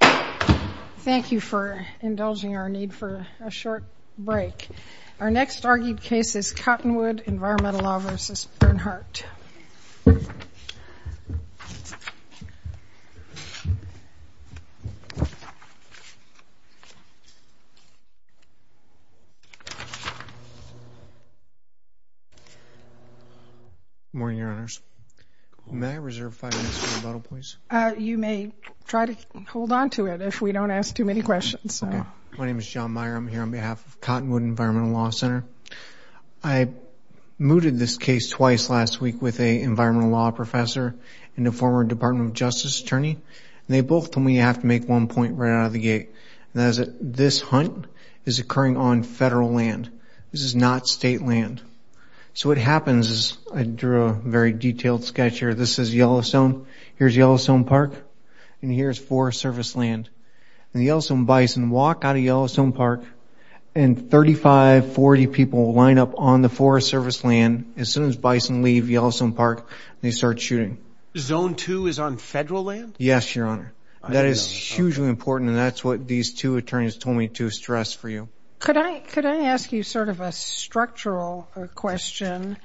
Thank you for indulging our need for a short break. Our next argued case is Cottonwood Environmental Law v. Bernhardt. Good morning, Your Honors. May I reserve five minutes for rebuttal, please? You may try to hold on to it if we don't ask too many questions. My name is John Meyer. I'm here on behalf of Cottonwood Environmental Law Center. I mooted this case twice last week with an environmental law professor and a former Department of Justice attorney. They both told me you have to make one point right out of the gate, and that is that this hunt is occurring on federal land. This is not state land. So what happens is I drew a very detailed sketch here. This is Yellowstone. Here's Yellowstone Park. And here's Forest Service land. And the Yellowstone bison walk out of Yellowstone Park, and 35, 40 people line up on the Forest Service land. As soon as bison leave Yellowstone Park, they start shooting. Zone 2 is on federal land? Yes, Your Honor. That is hugely important, and that's what these two attorneys told me to stress for you. Could I ask you sort of a structural question?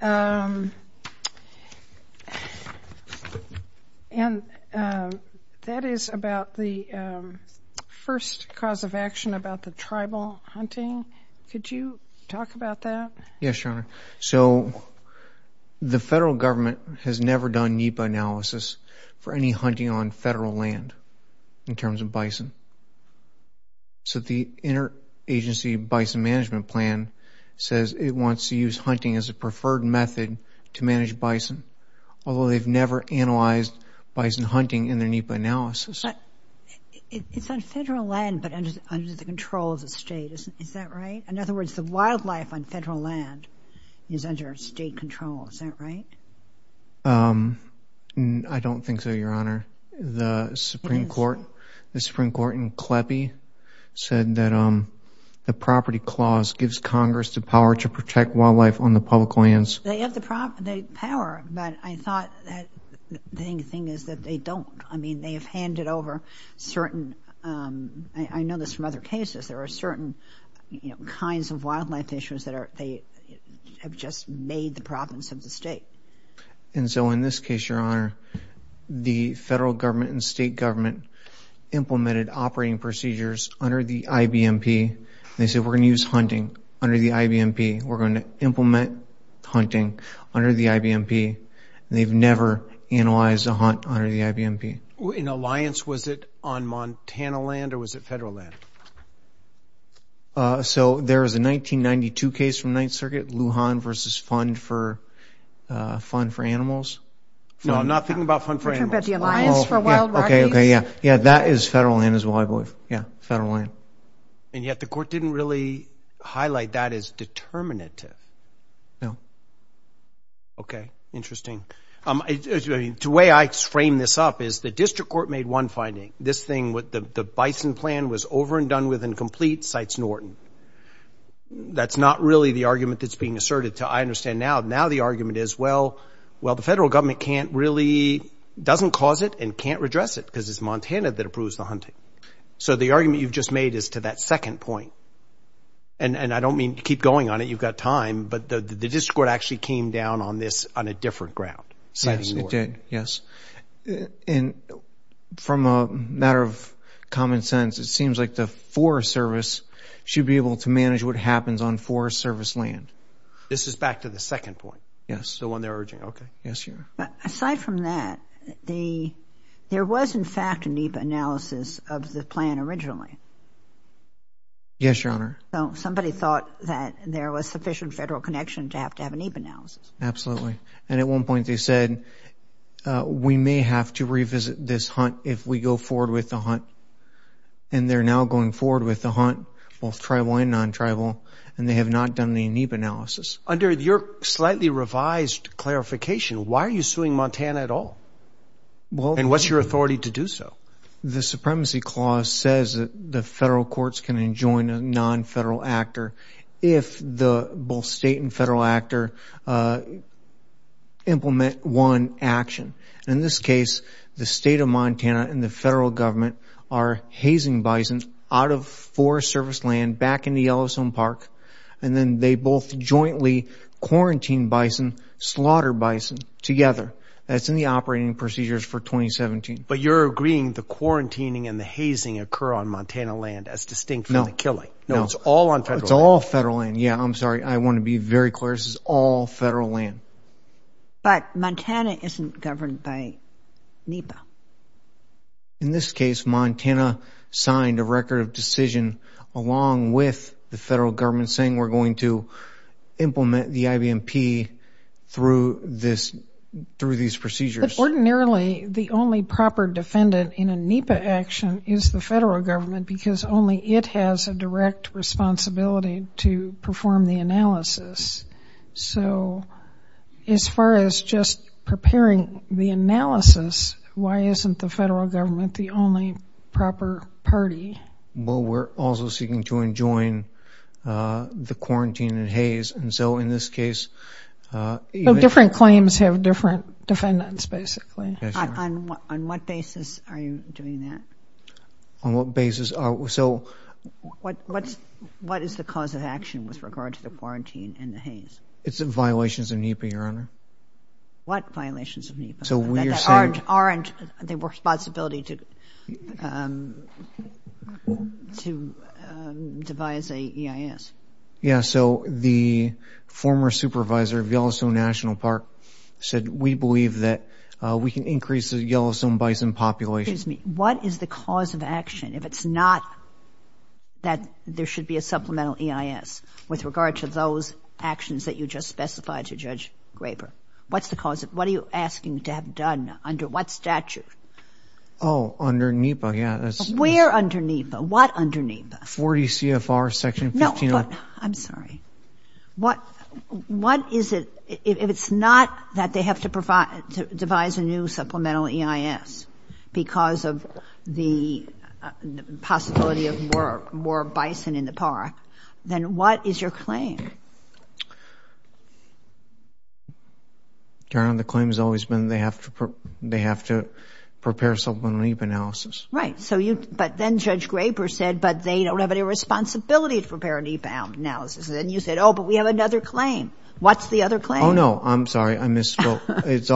And that is about the first cause of action about the tribal hunting. Could you talk about that? Yes, Your Honor. So the federal government has never done NEPA analysis for any hunting on federal land in terms of bison. So the Interagency Bison Management Plan says it wants to use hunting as a preferred method to manage bison, although they've never analyzed bison hunting in their NEPA analysis. But it's on federal land but under the control of the state. Is that right? In other words, the wildlife on federal land is under state control. Is that right? I don't think so, Your Honor. The Supreme Court in CLEPI said that the property clause gives Congress the power to protect wildlife on the public lands. They have the power, but I thought the thing is that they don't. I mean, they have handed over certain, I know this from other cases, there are certain kinds of wildlife issues that they have just made the province of the state. And so in this case, Your Honor, the federal government and state government implemented operating procedures under the IBMP. They said we're going to use hunting under the IBMP. We're going to implement hunting under the IBMP. They've never analyzed a hunt under the IBMP. In Alliance, was it on Montana land or was it federal land? So there is a 1992 case from Ninth Circuit, Lujan v. Fund for Animals. No, I'm not thinking about Fund for Animals. You're talking about the Alliance for Wild Rockies? Okay, okay, yeah. Yeah, that is federal land as well, I believe. Yeah, federal land. And yet the court didn't really highlight that as determinative. No. Okay, interesting. The way I frame this up is the district court made one finding. This thing, the bison plan was over and done with and complete, cites Norton. That's not really the argument that's being asserted. I understand now. Now the argument is, well, the federal government can't really, doesn't cause it and can't redress it because it's Montana that approves the hunting. So the argument you've just made is to that second point. And I don't mean to keep going on it. You've got time. But the district court actually came down on this on a different ground. Yes, it did, yes. And from a matter of common sense, it seems like the Forest Service should be able to manage what happens on Forest Service land. This is back to the second point. Yes. The one they're urging. Okay. Yes, Your Honor. Aside from that, there was, in fact, a NEPA analysis of the plan originally. Yes, Your Honor. So somebody thought that there was sufficient federal connection to have to have a NEPA analysis. Absolutely. And at one point they said, we may have to revisit this hunt if we go forward with the hunt. And they're now going forward with the hunt, both tribal and non-tribal, and they have not done the NEPA analysis. Under your slightly revised clarification, why are you suing Montana at all? And what's your authority to do so? The Supremacy Clause says that the federal courts can enjoin a non-federal actor if the both state and federal actor implement one action. In this case, the State of Montana and the federal government are hazing bison out of Forest Service land back in the Yellowstone Park, and then they both jointly quarantine bison, slaughter bison together. That's in the operating procedures for 2017. But you're agreeing the quarantining and the hazing occur on Montana land as distinct from the killing. No. No, it's all on federal land. It's all federal land. Yeah, I'm sorry. I want to be very clear. This is all federal land. But Montana isn't governed by NEPA. In this case, Montana signed a record of decision along with the federal government saying we're going to implement the IBMP through these procedures. But ordinarily, the only proper defendant in a NEPA action is the federal government because only it has a direct responsibility to perform the analysis. So, as far as just preparing the analysis, why isn't the federal government the only proper party? Well, we're also seeking to enjoin the quarantine and haze. And so, in this case – Well, different claims have different defendants, basically. Yes, ma'am. On what basis are you doing that? On what basis? What is the cause of action with regard to the quarantine and the haze? It's violations of NEPA, Your Honor. What violations of NEPA? That aren't the responsibility to devise a EIS. Yeah, so the former supervisor of Yellowstone National Park said we believe that we can increase the Yellowstone bison population. Excuse me. What is the cause of action if it's not that there should be a supplemental EIS with regard to those actions that you just specified to Judge Graber? What's the cause? What are you asking to have done under what statute? Oh, under NEPA, yeah. Where under NEPA? What under NEPA? 40 CFR section 15. No, I'm sorry. What is it if it's not that they have to devise a new supplemental EIS because of the possibility of more bison in the park? Then what is your claim? Your Honor, the claim has always been they have to prepare supplemental NEPA analysis. Right, but then Judge Graber said, but they don't have any responsibility to prepare a NEPA analysis. Then you said, oh, but we have another claim. What's the other claim? Oh, no, I'm sorry. I misspoke. It's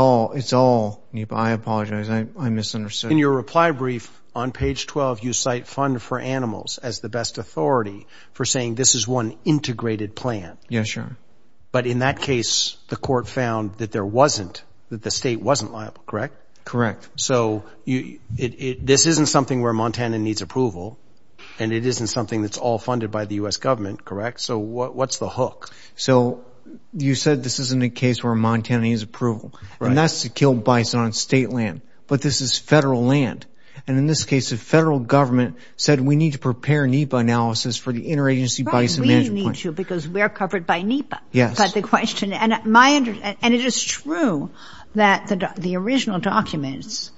all NEPA. I apologize. I misunderstood. In your reply brief on page 12, you cite fund for animals as the best authority for saying this is one integrated plan. Yeah, sure. But in that case, the court found that there wasn't, that the state wasn't liable, correct? Correct. So this isn't something where Montana needs approval, and it isn't something that's all funded by the U.S. government, correct? So what's the hook? So you said this isn't a case where Montana needs approval. Right. And that's to kill bison on state land. But this is federal land. And in this case, the federal government said we need to prepare NEPA analysis for the interagency bison management plan. Right, we need to because we're covered by NEPA. Yes. But the question, and it is true that the original documents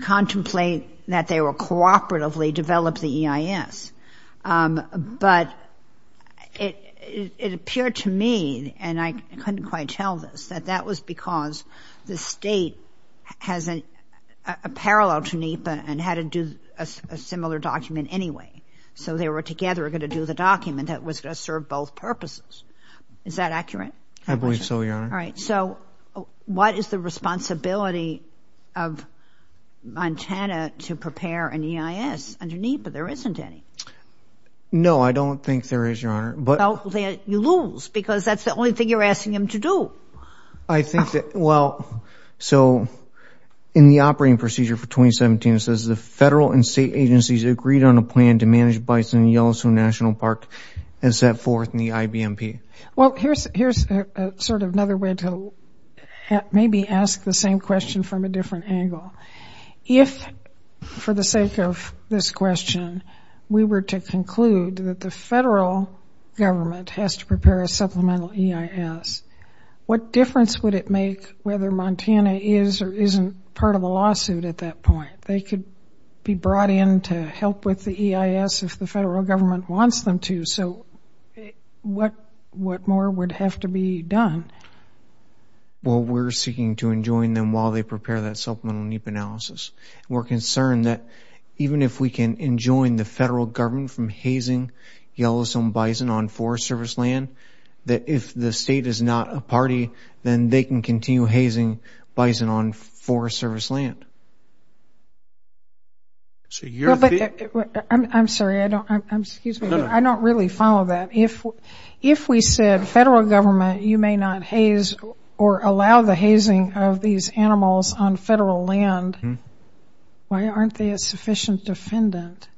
contemplate that they were cooperatively developed, the EIS. But it appeared to me, and I couldn't quite tell this, that that was because the state has a parallel to NEPA and had to do a similar document anyway. So they were together going to do the document that was going to serve both purposes. Is that accurate? I believe so, Your Honor. All right. So what is the responsibility of Montana to prepare an EIS under NEPA? There isn't any. No, I don't think there is, Your Honor. You lose because that's the only thing you're asking them to do. I think that, well, so in the operating procedure for 2017, it says the federal and state agencies agreed on a plan to manage bison in Yellowstone National Park and set forth in the IBMP. Well, here's sort of another way to maybe ask the same question from a different angle. If, for the sake of this question, we were to conclude that the federal government has to prepare a supplemental EIS, what difference would it make whether Montana is or isn't part of a lawsuit at that point? They could be brought in to help with the EIS if the federal government wants them to. So what more would have to be done? Well, we're seeking to enjoin them while they prepare that supplemental NEPA analysis. We're concerned that even if we can enjoin the federal government from hazing Yellowstone bison on Forest Service land, that if the state is not a party, then they can continue hazing bison on Forest Service land. I'm sorry. I don't really follow that. If we said federal government, you may not haze or allow the hazing of these animals on federal land, why aren't they a sufficient defendant?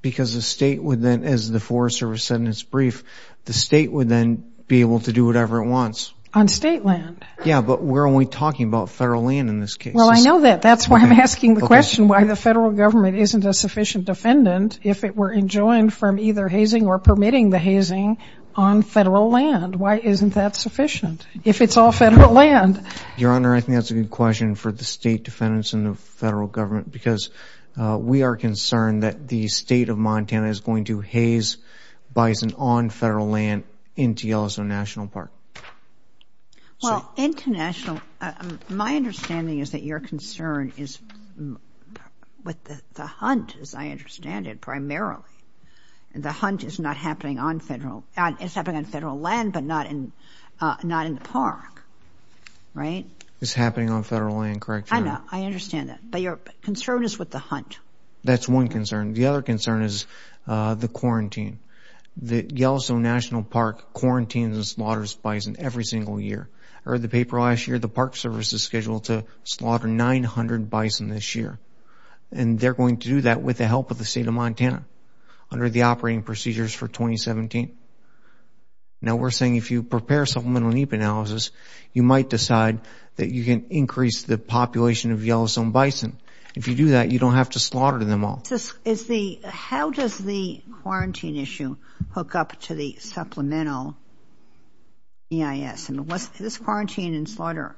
Because the state would then, as the Forest Service said in its brief, the state would then be able to do whatever it wants. On state land? Yeah, but we're only talking about federal land in this case. Well, I know that. That's why I'm asking the question why the federal government isn't a sufficient defendant if it were enjoined from either hazing or permitting the hazing on federal land. Why isn't that sufficient if it's all federal land? Your Honor, I think that's a good question for the state defendants and the federal government because we are concerned that the state of Montana is going to haze bison on federal land into Yellowstone National Park. Well, international, my understanding is that your concern is with the hunt, as I understand it, primarily. The hunt is happening on federal land but not in the park, right? It's happening on federal land, correct, Your Honor? I know. I understand that. But your concern is with the hunt. That's one concern. The other concern is the quarantine. Yellowstone National Park quarantines and slaughters bison every single year. I read the paper last year, the Park Service is scheduled to slaughter 900 bison this year, and they're going to do that with the help of the state of Montana under the operating procedures for 2017. Now, we're saying if you prepare supplemental NEPA analysis, you might decide that you can increase the population of Yellowstone bison. If you do that, you don't have to slaughter them all. How does the quarantine issue hook up to the supplemental EIS? This quarantine and slaughter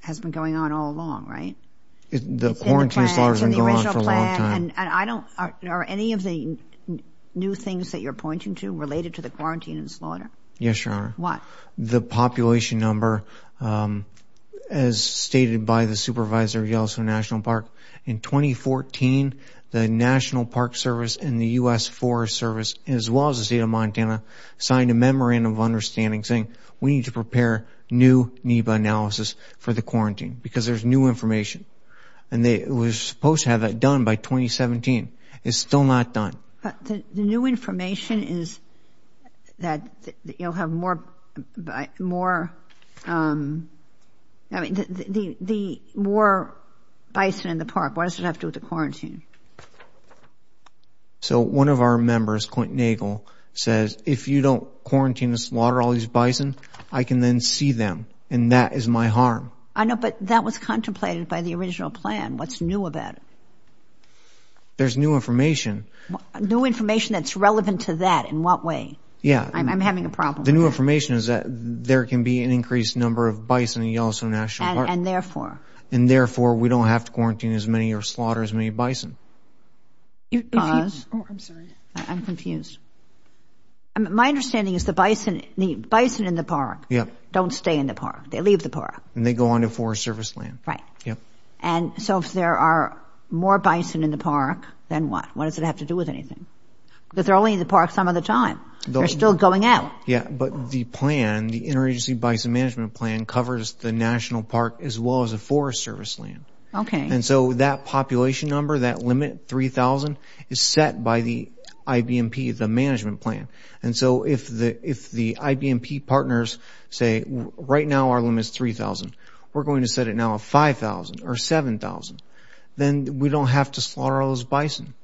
has been going on all along, right? The quarantine and slaughter has been going on for a long time. Are any of the new things that you're pointing to related to the quarantine and slaughter? Yes, Your Honor. What? The population number, as stated by the supervisor of Yellowstone National Park, in 2014 the National Park Service and the U.S. Forest Service, as well as the state of Montana, signed a memorandum of understanding saying we need to prepare new NEPA analysis for the quarantine because there's new information. And they were supposed to have that done by 2017. It's still not done. The new information is that you'll have more bison in the park. What does it have to do with the quarantine? So one of our members, Quentin Nagel, says, if you don't quarantine and slaughter all these bison, I can then see them, and that is my harm. I know, but that was contemplated by the original plan. What's new about it? There's new information. New information that's relevant to that. In what way? Yeah. I'm having a problem. The new information is that there can be an increased number of bison in Yellowstone National Park. And therefore? And therefore we don't have to quarantine as many or slaughter as many bison. Because? Oh, I'm sorry. I'm confused. My understanding is the bison in the park don't stay in the park. They leave the park. And they go on to Forest Service land. Right. Yep. And so if there are more bison in the park, then what? What does it have to do with anything? Because they're only in the park some of the time. They're still going out. Yeah, but the plan, the Interagency Bison Management Plan, covers the national park as well as the Forest Service land. Okay. And so that population number, that limit, 3,000, is set by the IBMP, the management plan. And so if the IBMP partners say, right now our limit is 3,000. We're going to set it now at 5,000 or 7,000. Then we don't have to slaughter all those bison.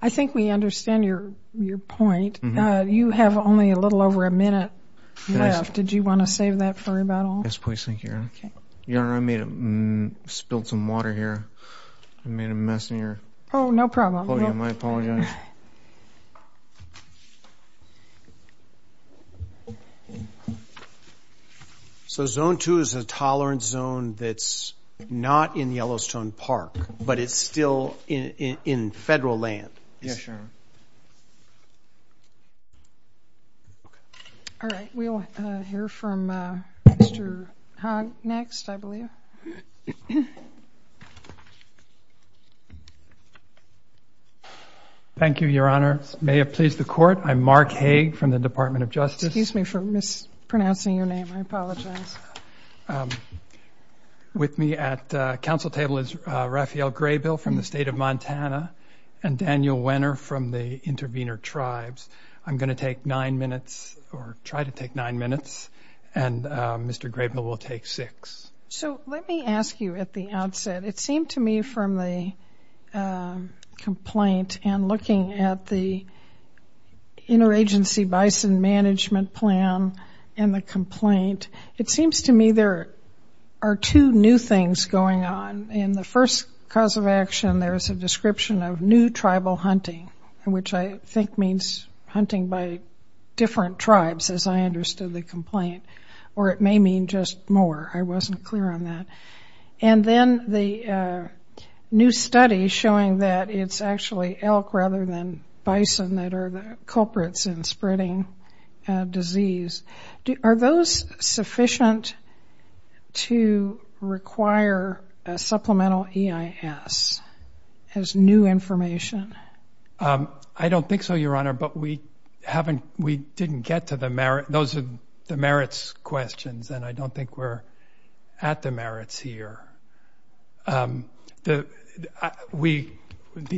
I think we understand your point. You have only a little over a minute left. Did you want to save that for about all? Yes, please. Thank you. Your Honor, I spilled some water here. I made a mess in your podium. Oh, no problem. I apologize. Your Honor. So Zone 2 is a tolerance zone that's not in Yellowstone Park, but it's still in federal land. Yes, Your Honor. Okay. All right. We'll hear from Mr. Haag next, I believe. Thank you, Your Honor. May it please the Court, I'm Mark Haag from the Department of Justice. Excuse me for mispronouncing your name. I apologize. With me at the council table is Raphael Graybill from the State of Montana and Daniel Wenner from the Intervenor Tribes. I'm going to take nine minutes, or try to take nine minutes, and Mr. Graybill will take six. So let me ask you at the outset, it seemed to me from the complaint and looking at the interagency bison management plan and the complaint, it seems to me there are two new things going on. In the first cause of action, there is a description of new tribal hunting, which I think means hunting by different tribes, as I understood the complaint, or it may mean just more. I wasn't clear on that. And then the new study showing that it's actually elk rather than bison that are the culprits in spreading disease. Are those sufficient to require a supplemental EIS as new information? I don't think so, Your Honor, but we didn't get to the merits. Those are the merits questions, and I don't think we're at the merits here. The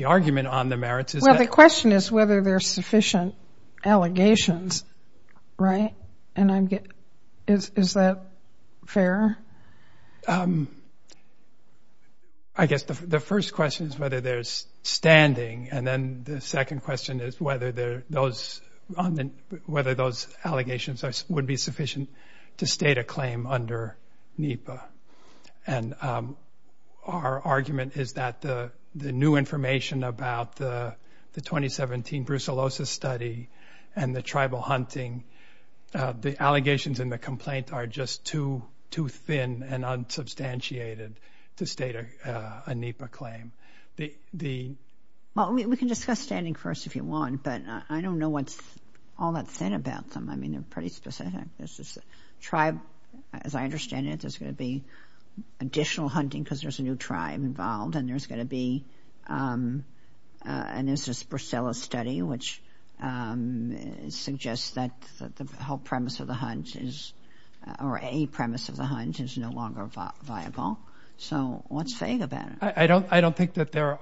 argument on the merits is that the question is whether there are sufficient allegations. Right? Is that fair? I guess the first question is whether there's standing, and then the second question is whether those allegations would be sufficient to state a claim under NEPA. And our argument is that the new information about the 2017 brucellosis study and the tribal hunting, the allegations in the complaint are just too thin and unsubstantiated to state a NEPA claim. Well, we can discuss standing first if you want, but I don't know what's all that thin about them. I mean, they're pretty specific. There's this tribe, as I understand it, there's going to be additional hunting because there's a new tribe involved, and there's going to be an instance of the brucella study, which suggests that the whole premise of the hunt is or a premise of the hunt is no longer viable. So what's vague about it? I don't think the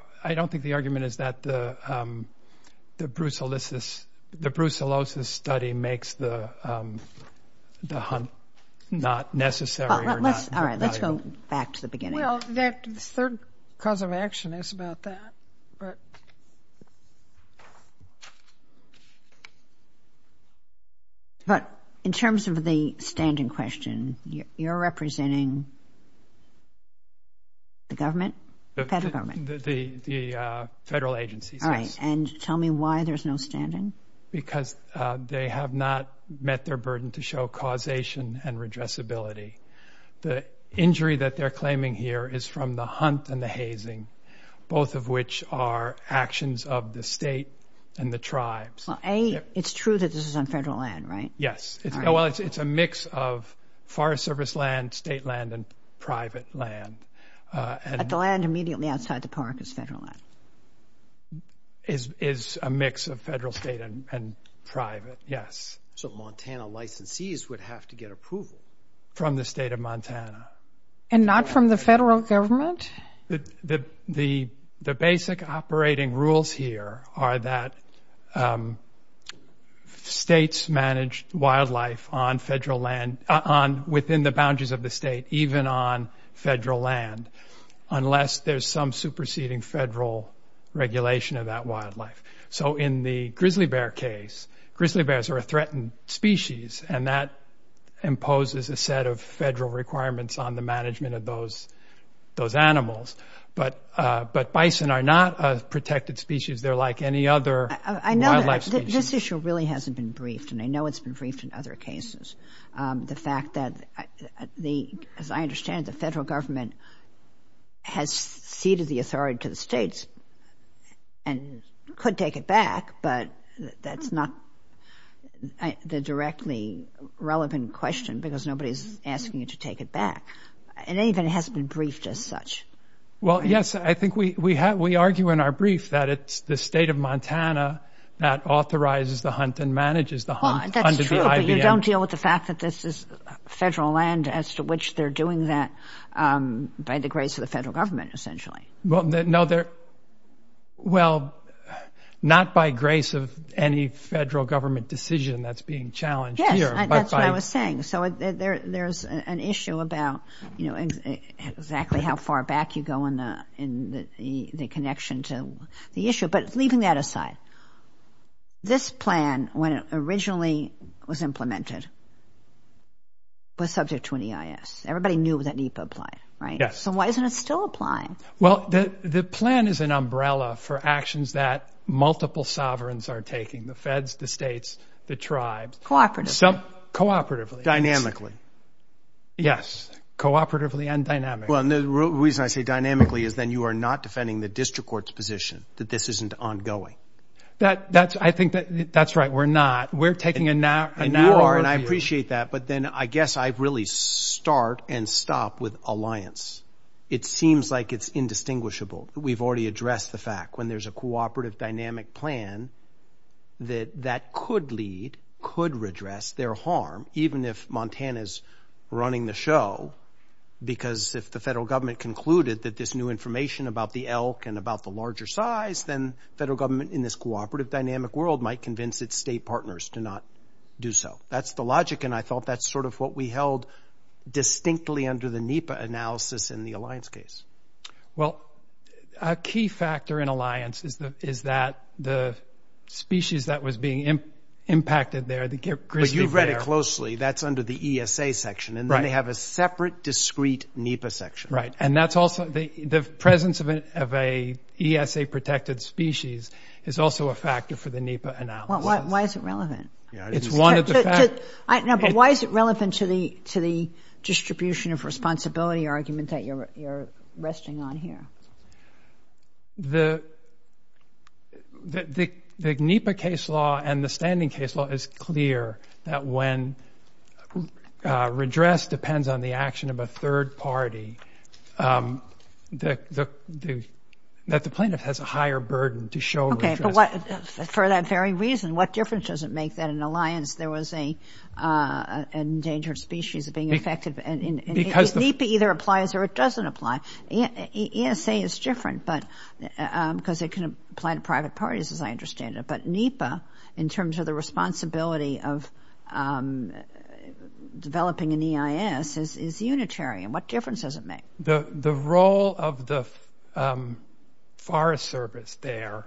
argument is that the brucellosis study makes the hunt not necessary. All right, let's go back to the beginning. Well, the third cause of action is about that. But in terms of the standing question, you're representing the government? The federal government. The federal agencies. All right, and tell me why there's no standing. Because they have not met their burden to show causation and redressability. The injury that they're claiming here is from the hunt and the hazing, both of which are actions of the state and the tribes. Well, A, it's true that this is on federal land, right? Yes. Well, it's a mix of Forest Service land, state land, and private land. But the land immediately outside the park is federal land? Is a mix of federal, state, and private, yes. So Montana licensees would have to get approval? From the state of Montana. And not from the federal government? The basic operating rules here are that states manage wildlife on federal land, within the boundaries of the state, even on federal land, unless there's some superseding federal regulation of that wildlife. So in the grizzly bear case, grizzly bears are a threatened species, and that imposes a set of federal requirements on the management of those animals. But bison are not a protected species. They're like any other wildlife species. This issue really hasn't been briefed, and I know it's been briefed in other cases. The fact that, as I understand it, the federal government has ceded the authority to the states and could take it back, but that's not the directly relevant question because nobody's asking you to take it back. It even hasn't been briefed as such. Well, yes, I think we argue in our brief that it's the state of Montana that authorizes the hunt and manages the hunt under the IBM. Well, that's true, but you don't deal with the fact that this is federal land as to which they're doing that by the grace of the federal government, essentially. Well, not by grace of any federal government decision that's being challenged here. Yes, that's what I was saying. So there's an issue about exactly how far back you go in the connection to the issue. But leaving that aside, this plan, when it originally was implemented, was subject to an EIS. Everybody knew that NEPA applied, right? Yes. And why isn't it still applying? Well, the plan is an umbrella for actions that multiple sovereigns are taking, the feds, the states, the tribes. Cooperatively. Cooperatively. Dynamically. Yes, cooperatively and dynamically. Well, and the reason I say dynamically is then you are not defending the district court's position that this isn't ongoing. I think that's right, we're not. We're taking a narrow view. And I appreciate that, but then I guess I really start and stop with alliance. It seems like it's indistinguishable. We've already addressed the fact when there's a cooperative dynamic plan that that could lead, could redress their harm, even if Montana's running the show, because if the federal government concluded that this new information about the elk and about the larger size, then federal government in this cooperative dynamic world might convince its state partners to not do so. That's the logic, and I thought that's sort of what we held distinctly under the NEPA analysis in the alliance case. Well, a key factor in alliance is that the species that was being impacted there, the grizzly bear. Well, you read it closely. That's under the ESA section, and then they have a separate, discreet NEPA section. Right, and that's also the presence of an ESA-protected species is also a factor for the NEPA analysis. Why is it relevant? It's one of the factors. No, but why is it relevant to the distribution of responsibility argument that you're resting on here? The NEPA case law and the standing case law is clear that when redress depends on the action of a third party, that the plaintiff has a higher burden to show redress. For that very reason, what difference does it make that in alliance there was an endangered species being affected? NEPA either applies or it doesn't apply. ESA is different because it can apply to private parties, as I understand it, but NEPA, in terms of the responsibility of developing an EIS, is unitary, and what difference does it make? The role of the Forest Service there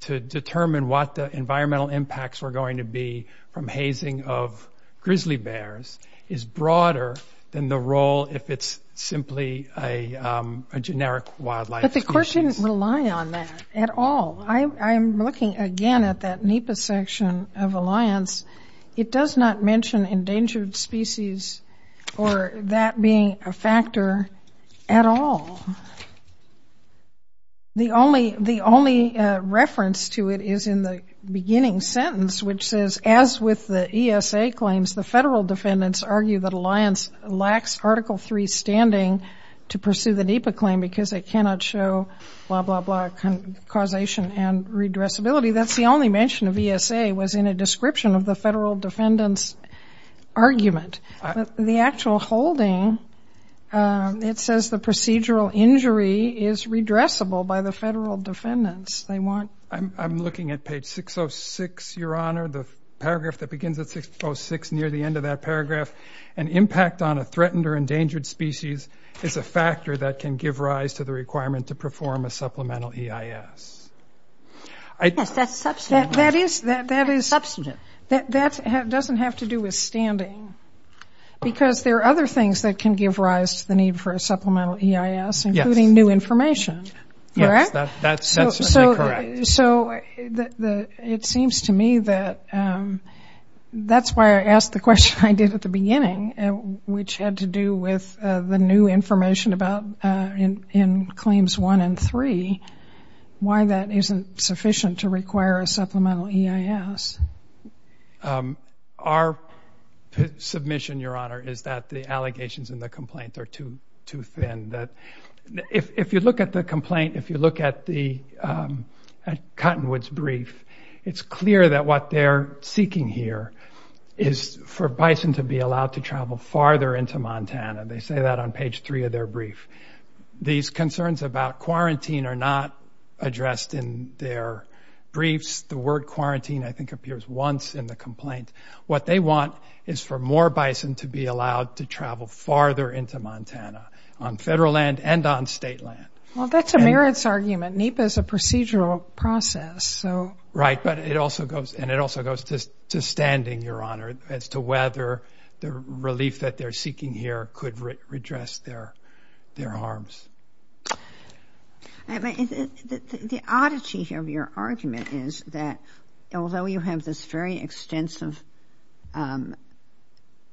to determine what the environmental impacts were going to be from hazing of grizzly bears is broader than the role if it's simply a generic wildlife species. But the court shouldn't rely on that at all. I'm looking again at that NEPA section of alliance. It does not mention endangered species or that being a factor at all. The only reference to it is in the beginning sentence, which says, as with the ESA claims, the federal defendants argue that alliance lacks Article III standing to pursue the NEPA claim because it cannot show blah, blah, blah, causation and redressability. That's the only mention of ESA was in a description of the federal defendants' argument. The actual holding, it says the procedural injury is redressable by the federal defendants. I'm looking at page 606, Your Honor, the paragraph that begins at 606 near the end of that paragraph. An impact on a threatened or endangered species is a factor that can give rise to the requirement to perform a supplemental EIS. Yes, that's substantive. That doesn't have to do with standing because there are other things that can give rise to the need for a supplemental EIS, including new information, correct? Yes, that's certainly correct. So it seems to me that that's why I asked the question I did at the beginning, which had to do with the new information in Claims 1 and 3, why that isn't sufficient to require a supplemental EIS. Our submission, Your Honor, is that the allegations in the complaint are too thin. If you look at the complaint, if you look at Cottonwood's brief, it's clear that what they're seeking here is for bison to be allowed to travel farther into Montana. They say that on page 3 of their brief. These concerns about quarantine are not addressed in their briefs. The word quarantine I think appears once in the complaint. What they want is for more bison to be allowed to travel farther into Montana, on federal land and on state land. Well, that's a merits argument. NEPA is a procedural process. Right, and it also goes to standing, Your Honor, as to whether the relief that they're seeking here could redress their harms. The oddity of your argument is that although you have this very extensive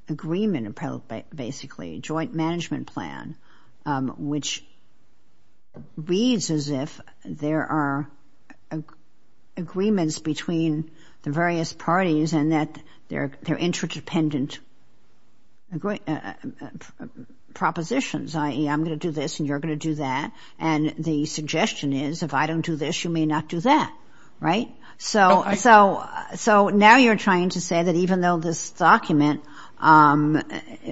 agreement, basically, joint management plan, which reads as if there are agreements between the various parties and that they're interdependent propositions, i.e., I'm going to do this and you're going to do that, and the suggestion is if I don't do this, you may not do that, right? So now you're trying to say that even though this document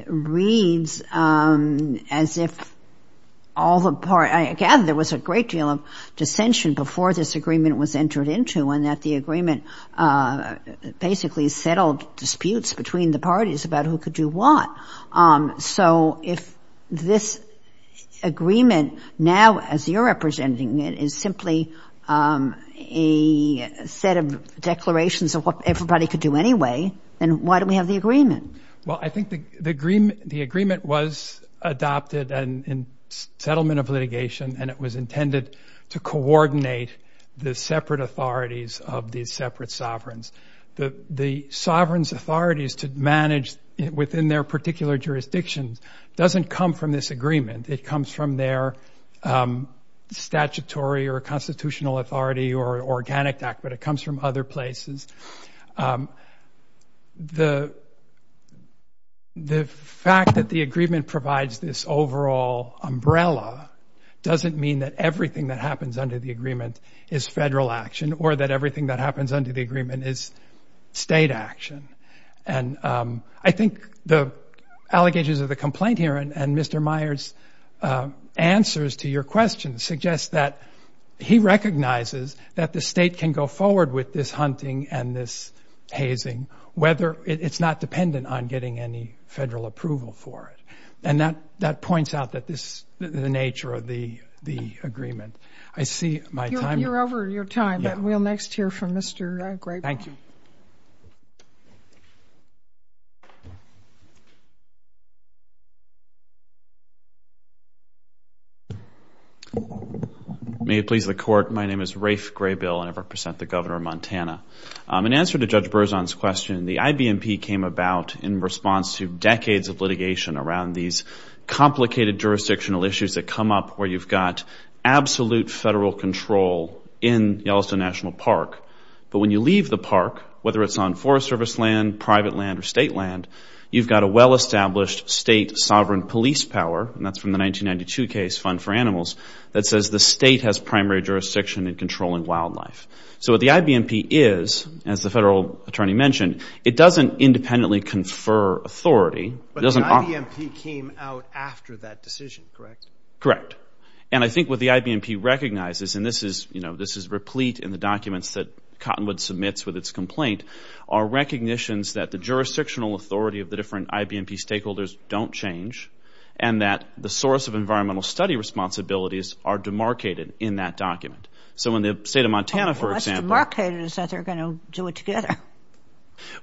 reads as if all the parties, I gather there was a great deal of dissension before this agreement was entered into and that the agreement basically settled disputes between the parties about who could do what. So if this agreement now, as you're representing it, is simply a set of declarations of what everybody could do anyway, then why do we have the agreement? Well, I think the agreement was adopted in settlement of litigation and it was intended to coordinate the separate authorities of these separate sovereigns. The sovereign's authorities to manage within their particular jurisdictions doesn't come from this agreement. It comes from their statutory or constitutional authority or organic act, but it comes from other places. The fact that the agreement provides this overall umbrella doesn't mean that everything that happens under the agreement is federal action or that everything that happens under the agreement is state action. And I think the allegations of the complaint here and Mr. Meyer's answers to your question suggest that he recognizes that the state can go forward with this hunting and this hazing whether it's not dependent on getting any federal approval for it. And that points out the nature of the agreement. I see my time. You're over your time, but we'll next hear from Mr. Graybill. Thank you. May it please the Court. My name is Rafe Graybill and I represent the Governor of Montana. In answer to Judge Berzon's question, the IBMP came about in response to decades of litigation around these complicated jurisdictional issues that come up where you've got absolute federal control in Yellowstone National Park. But when you leave the park, whether it's on Forest Service land, private land, or state land, you've got a well-established state sovereign police power, and that's from the 1992 case, Fund for Animals, that says the state has primary jurisdiction in controlling wildlife. So what the IBMP is, as the federal attorney mentioned, it doesn't independently confer authority. But the IBMP came out after that decision, correct? Correct. And I think what the IBMP recognizes, and this is replete in the documents that Cottonwood submits with its complaint, are recognitions that the jurisdictional authority of the different IBMP stakeholders don't change and that the source of environmental study responsibilities are demarcated in that document. So in the state of Montana, for example... Well, what's demarcated is that they're going to do it together.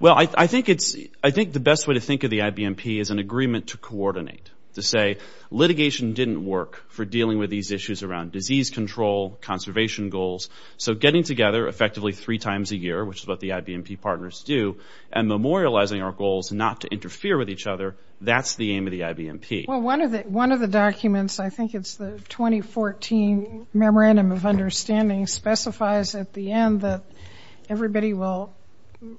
Well, I think the best way to think of the IBMP is an agreement to coordinate, to say litigation didn't work for dealing with these issues around disease control, conservation goals. So getting together effectively three times a year, which is what the IBMP partners do, and memorializing our goals not to interfere with each other, that's the aim of the IBMP. Well, one of the documents, I think it's the 2014 Memorandum of Understanding, specifies at the end that everybody will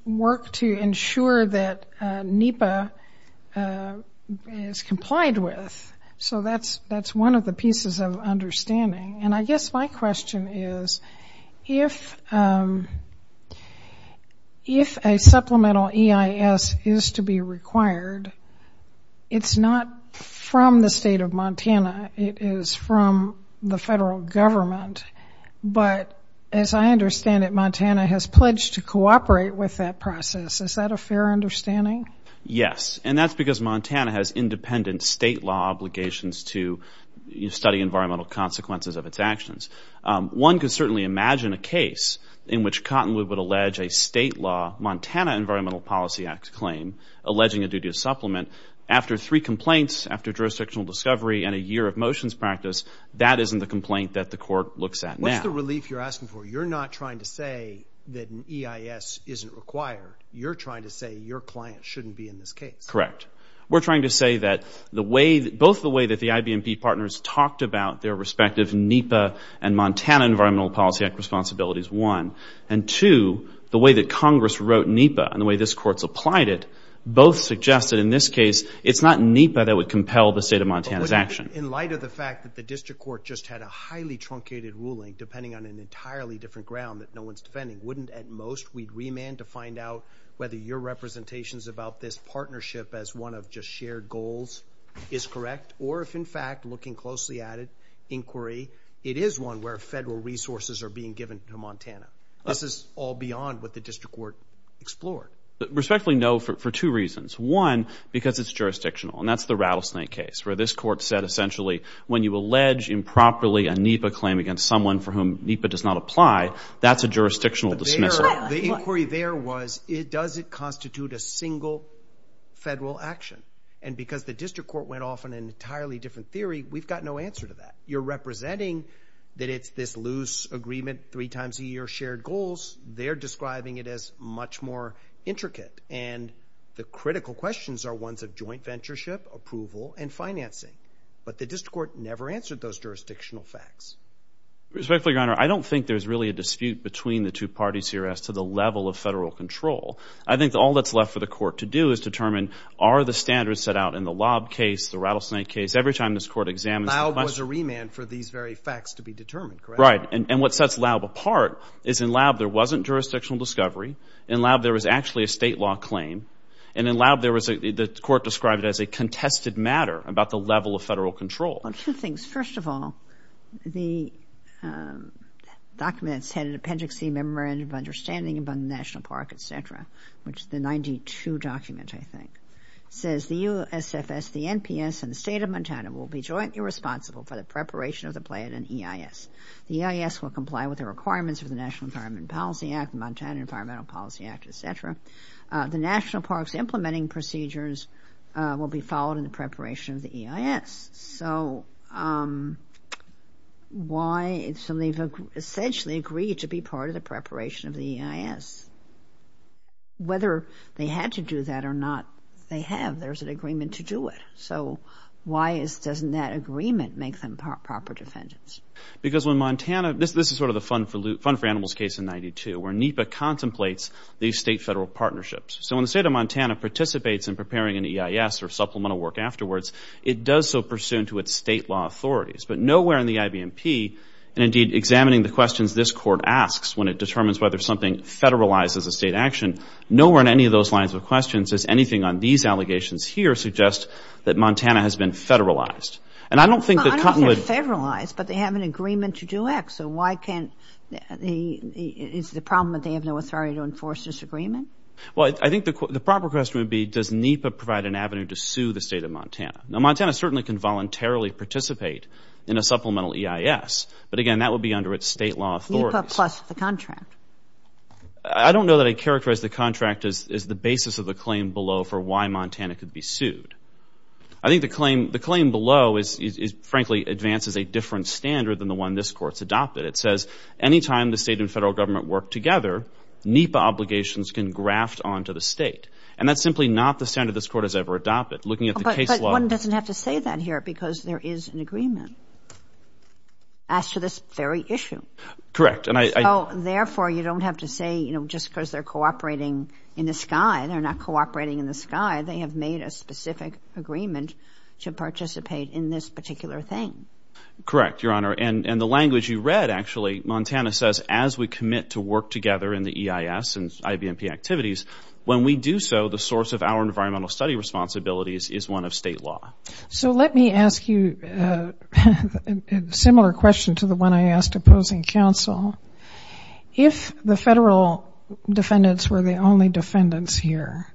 work to ensure that NEPA is complied with. So that's one of the pieces of understanding. And I guess my question is, if a supplemental EIS is to be required, it's not from the state of Montana. It is from the federal government. But as I understand it, Montana has pledged to cooperate with that process. Is that a fair understanding? Yes, and that's because Montana has independent state law obligations to study environmental consequences of its actions. One could certainly imagine a case in which Cottonwood would allege a state law, Montana Environmental Policy Act claim, alleging a duty of supplement. After three complaints, after jurisdictional discovery and a year of motions practice, that isn't the complaint that the court looks at now. What's the relief you're asking for? So you're not trying to say that an EIS isn't required. You're trying to say your client shouldn't be in this case. Correct. We're trying to say that both the way that the IBMP partners talked about their respective NEPA and Montana Environmental Policy Act responsibilities, one, and two, the way that Congress wrote NEPA and the way this court supplied it, both suggested in this case it's not NEPA that would compel the state of Montana's action. In light of the fact that the district court just had a highly truncated ruling, depending on an entirely different ground that no one's defending, wouldn't at most we remand to find out whether your representations about this partnership as one of just shared goals is correct? Or if, in fact, looking closely at it, inquiry, it is one where federal resources are being given to Montana. This is all beyond what the district court explored. Respectfully, no, for two reasons. One, because it's jurisdictional, and that's the Rattlesnake case, where this court said essentially when you allege improperly a NEPA claim against someone for whom NEPA does not apply, that's a jurisdictional dismissal. The inquiry there was does it constitute a single federal action? And because the district court went off on an entirely different theory, we've got no answer to that. You're representing that it's this loose agreement three times a year, shared goals. They're describing it as much more intricate, and the critical questions are ones of joint ventureship, approval, and financing. But the district court never answered those jurisdictional facts. Respectfully, Your Honor, I don't think there's really a dispute between the two parties here as to the level of federal control. I think all that's left for the court to do is determine are the standards set out in the Laub case, the Rattlesnake case, every time this court examines the funds. Laub was a remand for these very facts to be determined, correct? Right, and what sets Laub apart is in Laub there wasn't jurisdictional discovery. In Laub there was actually a state law claim, and in Laub the court described it as a contested matter about the level of federal control. Well, two things. First of all, the documents had an appendix, a memorandum of understanding about the National Park, et cetera, which is the 92 document, I think. It says the USFS, the NPS, and the State of Montana will be jointly responsible for the preparation of the plan and EIS. The EIS will comply with the requirements of the National Environment Policy Act, the Montana Environmental Policy Act, et cetera. The National Park's implementing procedures will be followed in the preparation of the EIS. So why? So they've essentially agreed to be part of the preparation of the EIS. Whether they had to do that or not, they have. There's an agreement to do it. So why doesn't that agreement make them proper defendants? Because when Montana, this is sort of the Fund for Animals case in 92, where NEPA contemplates these state-federal partnerships. So when the State of Montana participates in preparing an EIS or supplemental work afterwards, it does so pursuant to its state law authorities. But nowhere in the IBMP, and indeed examining the questions this Court asks when it determines whether something federalizes a state action, nowhere in any of those lines of questions does anything on these allegations here suggest that Montana has been federalized. And I don't think that Cottonwood... I don't think they're federalized, but they have an agreement to do X. So why can't the, is the problem that they have no authority to enforce this agreement? Well, I think the proper question would be, does NEPA provide an avenue to sue the State of Montana? Now, Montana certainly can voluntarily participate in a supplemental EIS, but again, that would be under its state law authorities. NEPA plus the contract. I don't know that I'd characterize the contract as the basis of the claim below for why Montana could be sued. I think the claim below is, frankly, advances a different standard than the one this Court's adopted. It says any time the state and federal government work together, NEPA obligations can graft onto the state. And that's simply not the standard this Court has ever adopted. Looking at the case law... But one doesn't have to say that here because there is an agreement as to this very issue. Correct, and I... So, therefore, you don't have to say, you know, just because they're cooperating in the sky, they're not cooperating in the sky, they have made a specific agreement to participate in this particular thing. Correct, Your Honor. And the language you read, actually, Montana says as we commit to work together in the EIS and IVMP activities, when we do so, the source of our environmental study responsibilities is one of state law. So let me ask you a similar question to the one I asked opposing counsel. If the federal defendants were the only defendants here,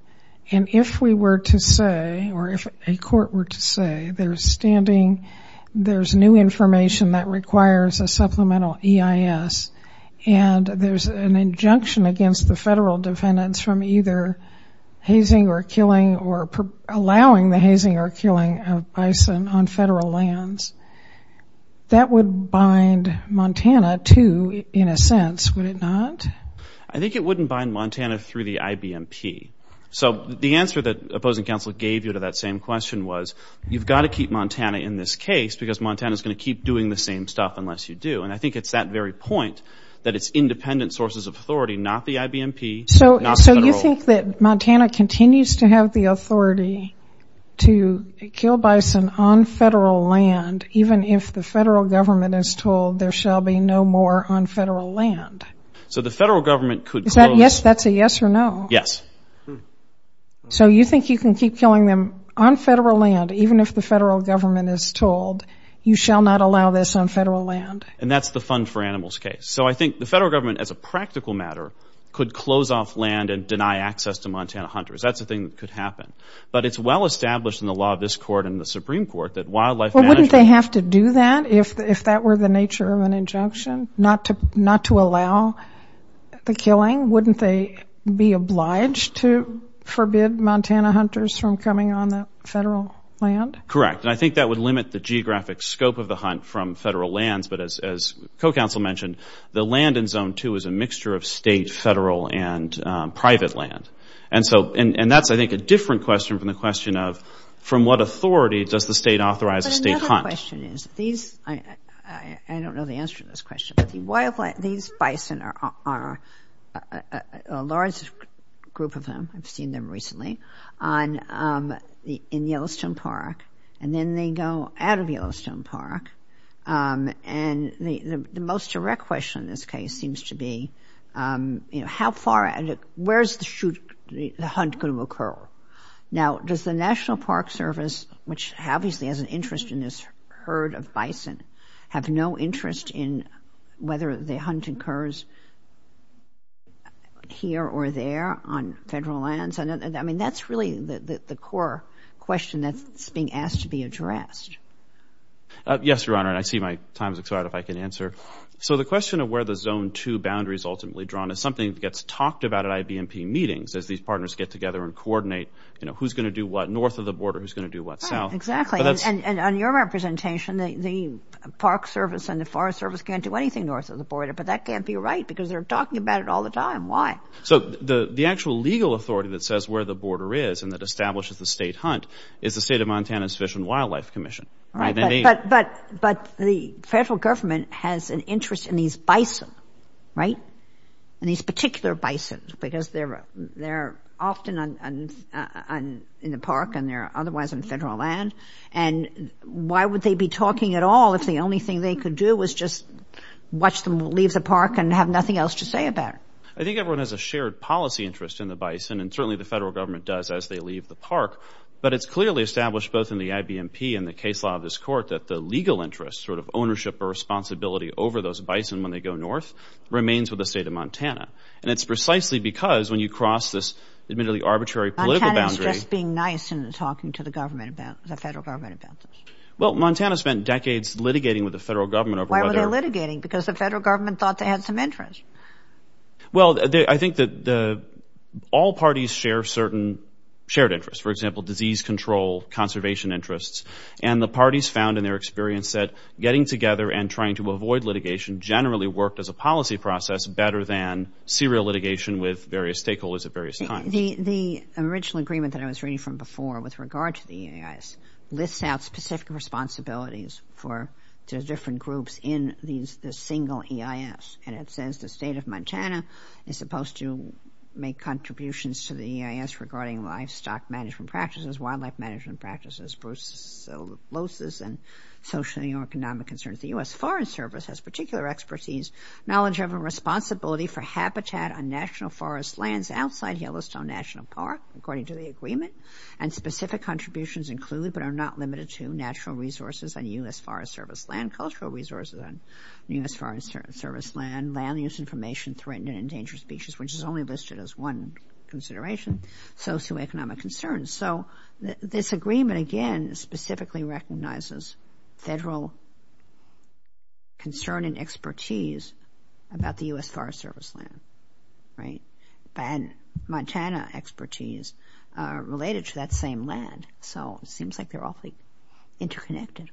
and if we were to say, or if a court were to say, there's standing, there's new information that requires a supplemental EIS, and there's an injunction against the federal defendants from either hazing or killing or allowing the hazing or killing of bison on federal lands, that would bind Montana to, in a sense, would it not? I think it wouldn't bind Montana through the IBMP. So the answer that opposing counsel gave you to that same question was, you've got to keep Montana in this case because Montana's going to keep doing the same stuff unless you do. And I think it's that very point that it's independent sources of authority, not the IBMP, not the federal. So you think that Montana continues to have the authority to kill bison on federal land, even if the federal government is told there shall be no more on federal land? So the federal government could close... Is that a yes or no? Yes. So you think you can keep killing them on federal land, even if the federal government is told you shall not allow this on federal land? And that's the Fund for Animals case. So I think the federal government, as a practical matter, could close off land and deny access to Montana hunters. That's a thing that could happen. But it's well established in the law of this court and the Supreme Court that wildlife management... Well, wouldn't they have to do that if that were the nature of an injunction, not to allow the killing? Wouldn't they be obliged to forbid Montana hunters from coming on the federal land? Correct. And I think that would limit the geographic scope of the hunt from federal lands. But as co-counsel mentioned, the land in Zone 2 is a mixture of state, federal, and private land. And that's, I think, a different question from the question of, from what authority does the state authorize a state hunt? But another question is, these... I don't know the answer to this question, but these bison are a large group of them. I've seen them recently in Yellowstone Park. And then they go out of Yellowstone Park. And the most direct question in this case seems to be, you know, how far... Where is the hunt going to occur? Now, does the National Park Service, which obviously has an interest in this herd of bison, have no interest in whether the hunt occurs here or there on federal lands? And, I mean, that's really the core question that's being asked to be addressed. Yes, Your Honor, and I see my time's expired. If I can answer. So the question of where the Zone 2 boundary is ultimately drawn is something that gets talked about at IBMP meetings as these partners get together and coordinate, you know, who's going to do what north of the border, who's going to do what south. Exactly. And on your representation, the Park Service and the Forest Service can't do anything north of the border. But that can't be right because they're talking about it all the time. Why? So the actual legal authority that says where the border is and that establishes the state hunt is the State of Montana's Fish and Wildlife Commission. Right. But the federal government has an interest in these bison, right, in these particular bison because they're often in the park and they're otherwise on federal land. And why would they be talking at all if the only thing they could do was just watch them leave the park and have nothing else to say about it? I think everyone has a shared policy interest in the bison, and certainly the federal government does as they leave the park. But it's clearly established both in the IBMP and the case law of this court that the legal interest, sort of ownership or responsibility over those bison when they go north, remains with the State of Montana. And it's precisely because when you cross this admittedly arbitrary political boundary... Montana's just being nice and talking to the federal government about this. Well, Montana spent decades litigating with the federal government over whether... Why were they litigating? Because the federal government thought they had some interest. Well, I think that all parties share certain shared interests. For example, disease control, conservation interests. And the parties found in their experience that getting together and trying to avoid litigation generally worked as a policy process better than serial litigation with various stakeholders at various times. The original agreement that I was reading from before with regard to the EIS lists out specific responsibilities to different groups in the single EIS. And it says the State of Montana is supposed to make contributions to the EIS regarding livestock management practices, wildlife management practices, brucellosis, and social and economic concerns. The U.S. Foreign Service has particular expertise, knowledge of and responsibility for habitat on national forest lands outside Yellowstone National Park, according to the agreement, and specific contributions include, but are not limited to, natural resources on U.S. Forest Service land, cultural resources on U.S. Forest Service land, land-use information, threatened and endangered species, which is only listed as one consideration, socioeconomic concerns. So this agreement, again, specifically recognizes federal concern and expertise about the U.S. Forest Service land, right? And Montana expertise related to that same land. So it seems like they're awfully interconnected.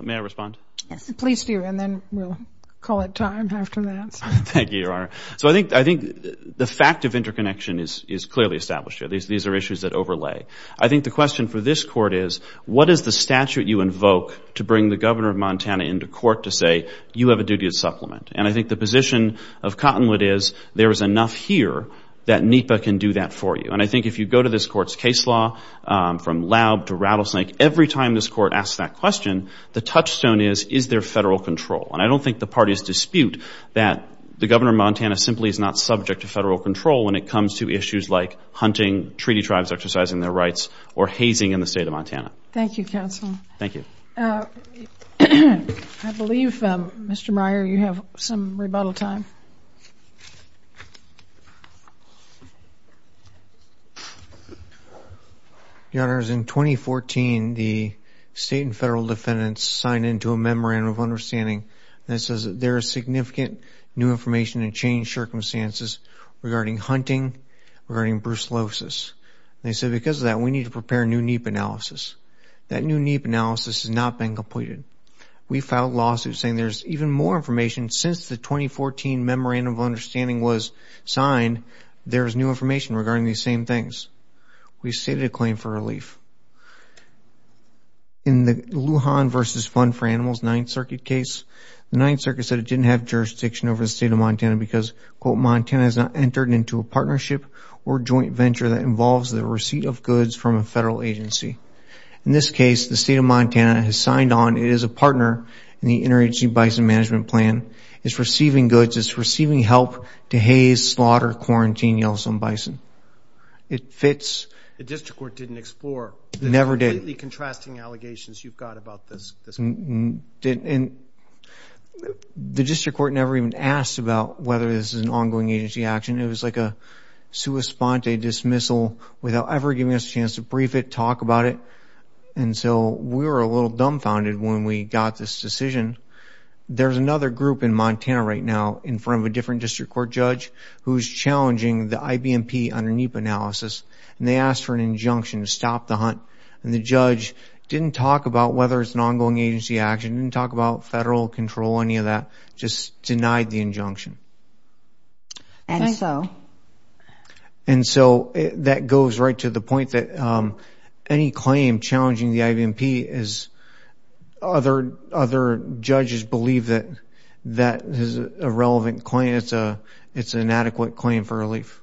May I respond? Yes. Please do, and then we'll call it time after that. Thank you, Your Honor. So I think the fact of interconnection is clearly established here. These are issues that overlay. I think the question for this Court is, what is the statute you invoke to bring the governor of Montana into court to say, you have a duty of supplement? And I think the position of Cottonwood is, there is enough here that NEPA can do that for you. And I think if you go to this Court's case law, from Laub to Rattlesnake, every time this Court asks that question, the touchstone is, is there federal control? And I don't think the parties dispute that the governor of Montana simply is not subject to federal control when it comes to issues like hunting, treaty tribes exercising their rights, or hazing in the state of Montana. Thank you, counsel. Thank you. I believe, Mr. Meyer, you have some rebuttal time. Your Honors, in 2014, the state and federal defendants signed into a memorandum of understanding that says there is significant new information and changed circumstances regarding hunting, regarding brucellosis. They said, because of that, we need to prepare a new NEPA analysis. That new NEPA analysis has not been completed. We filed lawsuits saying there's even more information. Since the 2014 memorandum of understanding was signed, there is new information regarding these same things. We've stated a claim for relief. In the Lujan v. Fund for Animals Ninth Circuit case, the Ninth Circuit said it didn't have jurisdiction over the state of Montana because, quote, Montana has not entered into a partnership or joint venture that involves the In this case, the state of Montana has signed on. It is a partner in the Interagency Bison Management Plan. It's receiving goods. It's receiving help to haze, slaughter, quarantine Yellowstone bison. It fits. The district court didn't explore. Never did. The completely contrasting allegations you've got about this. The district court never even asked about whether this is an ongoing agency action. It was like a sua sponte dismissal without ever giving us a chance to brief it, to talk about it. And so we were a little dumbfounded when we got this decision. There's another group in Montana right now in front of a different district court judge who's challenging the IBMP under NEPA analysis. And they asked for an injunction to stop the hunt. And the judge didn't talk about whether it's an ongoing agency action, didn't talk about federal control, any of that, just denied the injunction. And so. And so that goes right to the point that any claim challenging the IBMP is other judges believe that that is a relevant claim. It's an adequate claim for relief.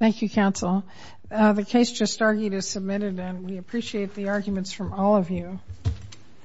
Thank you, counsel. The case just argued is submitted, and we appreciate the arguments from all of you.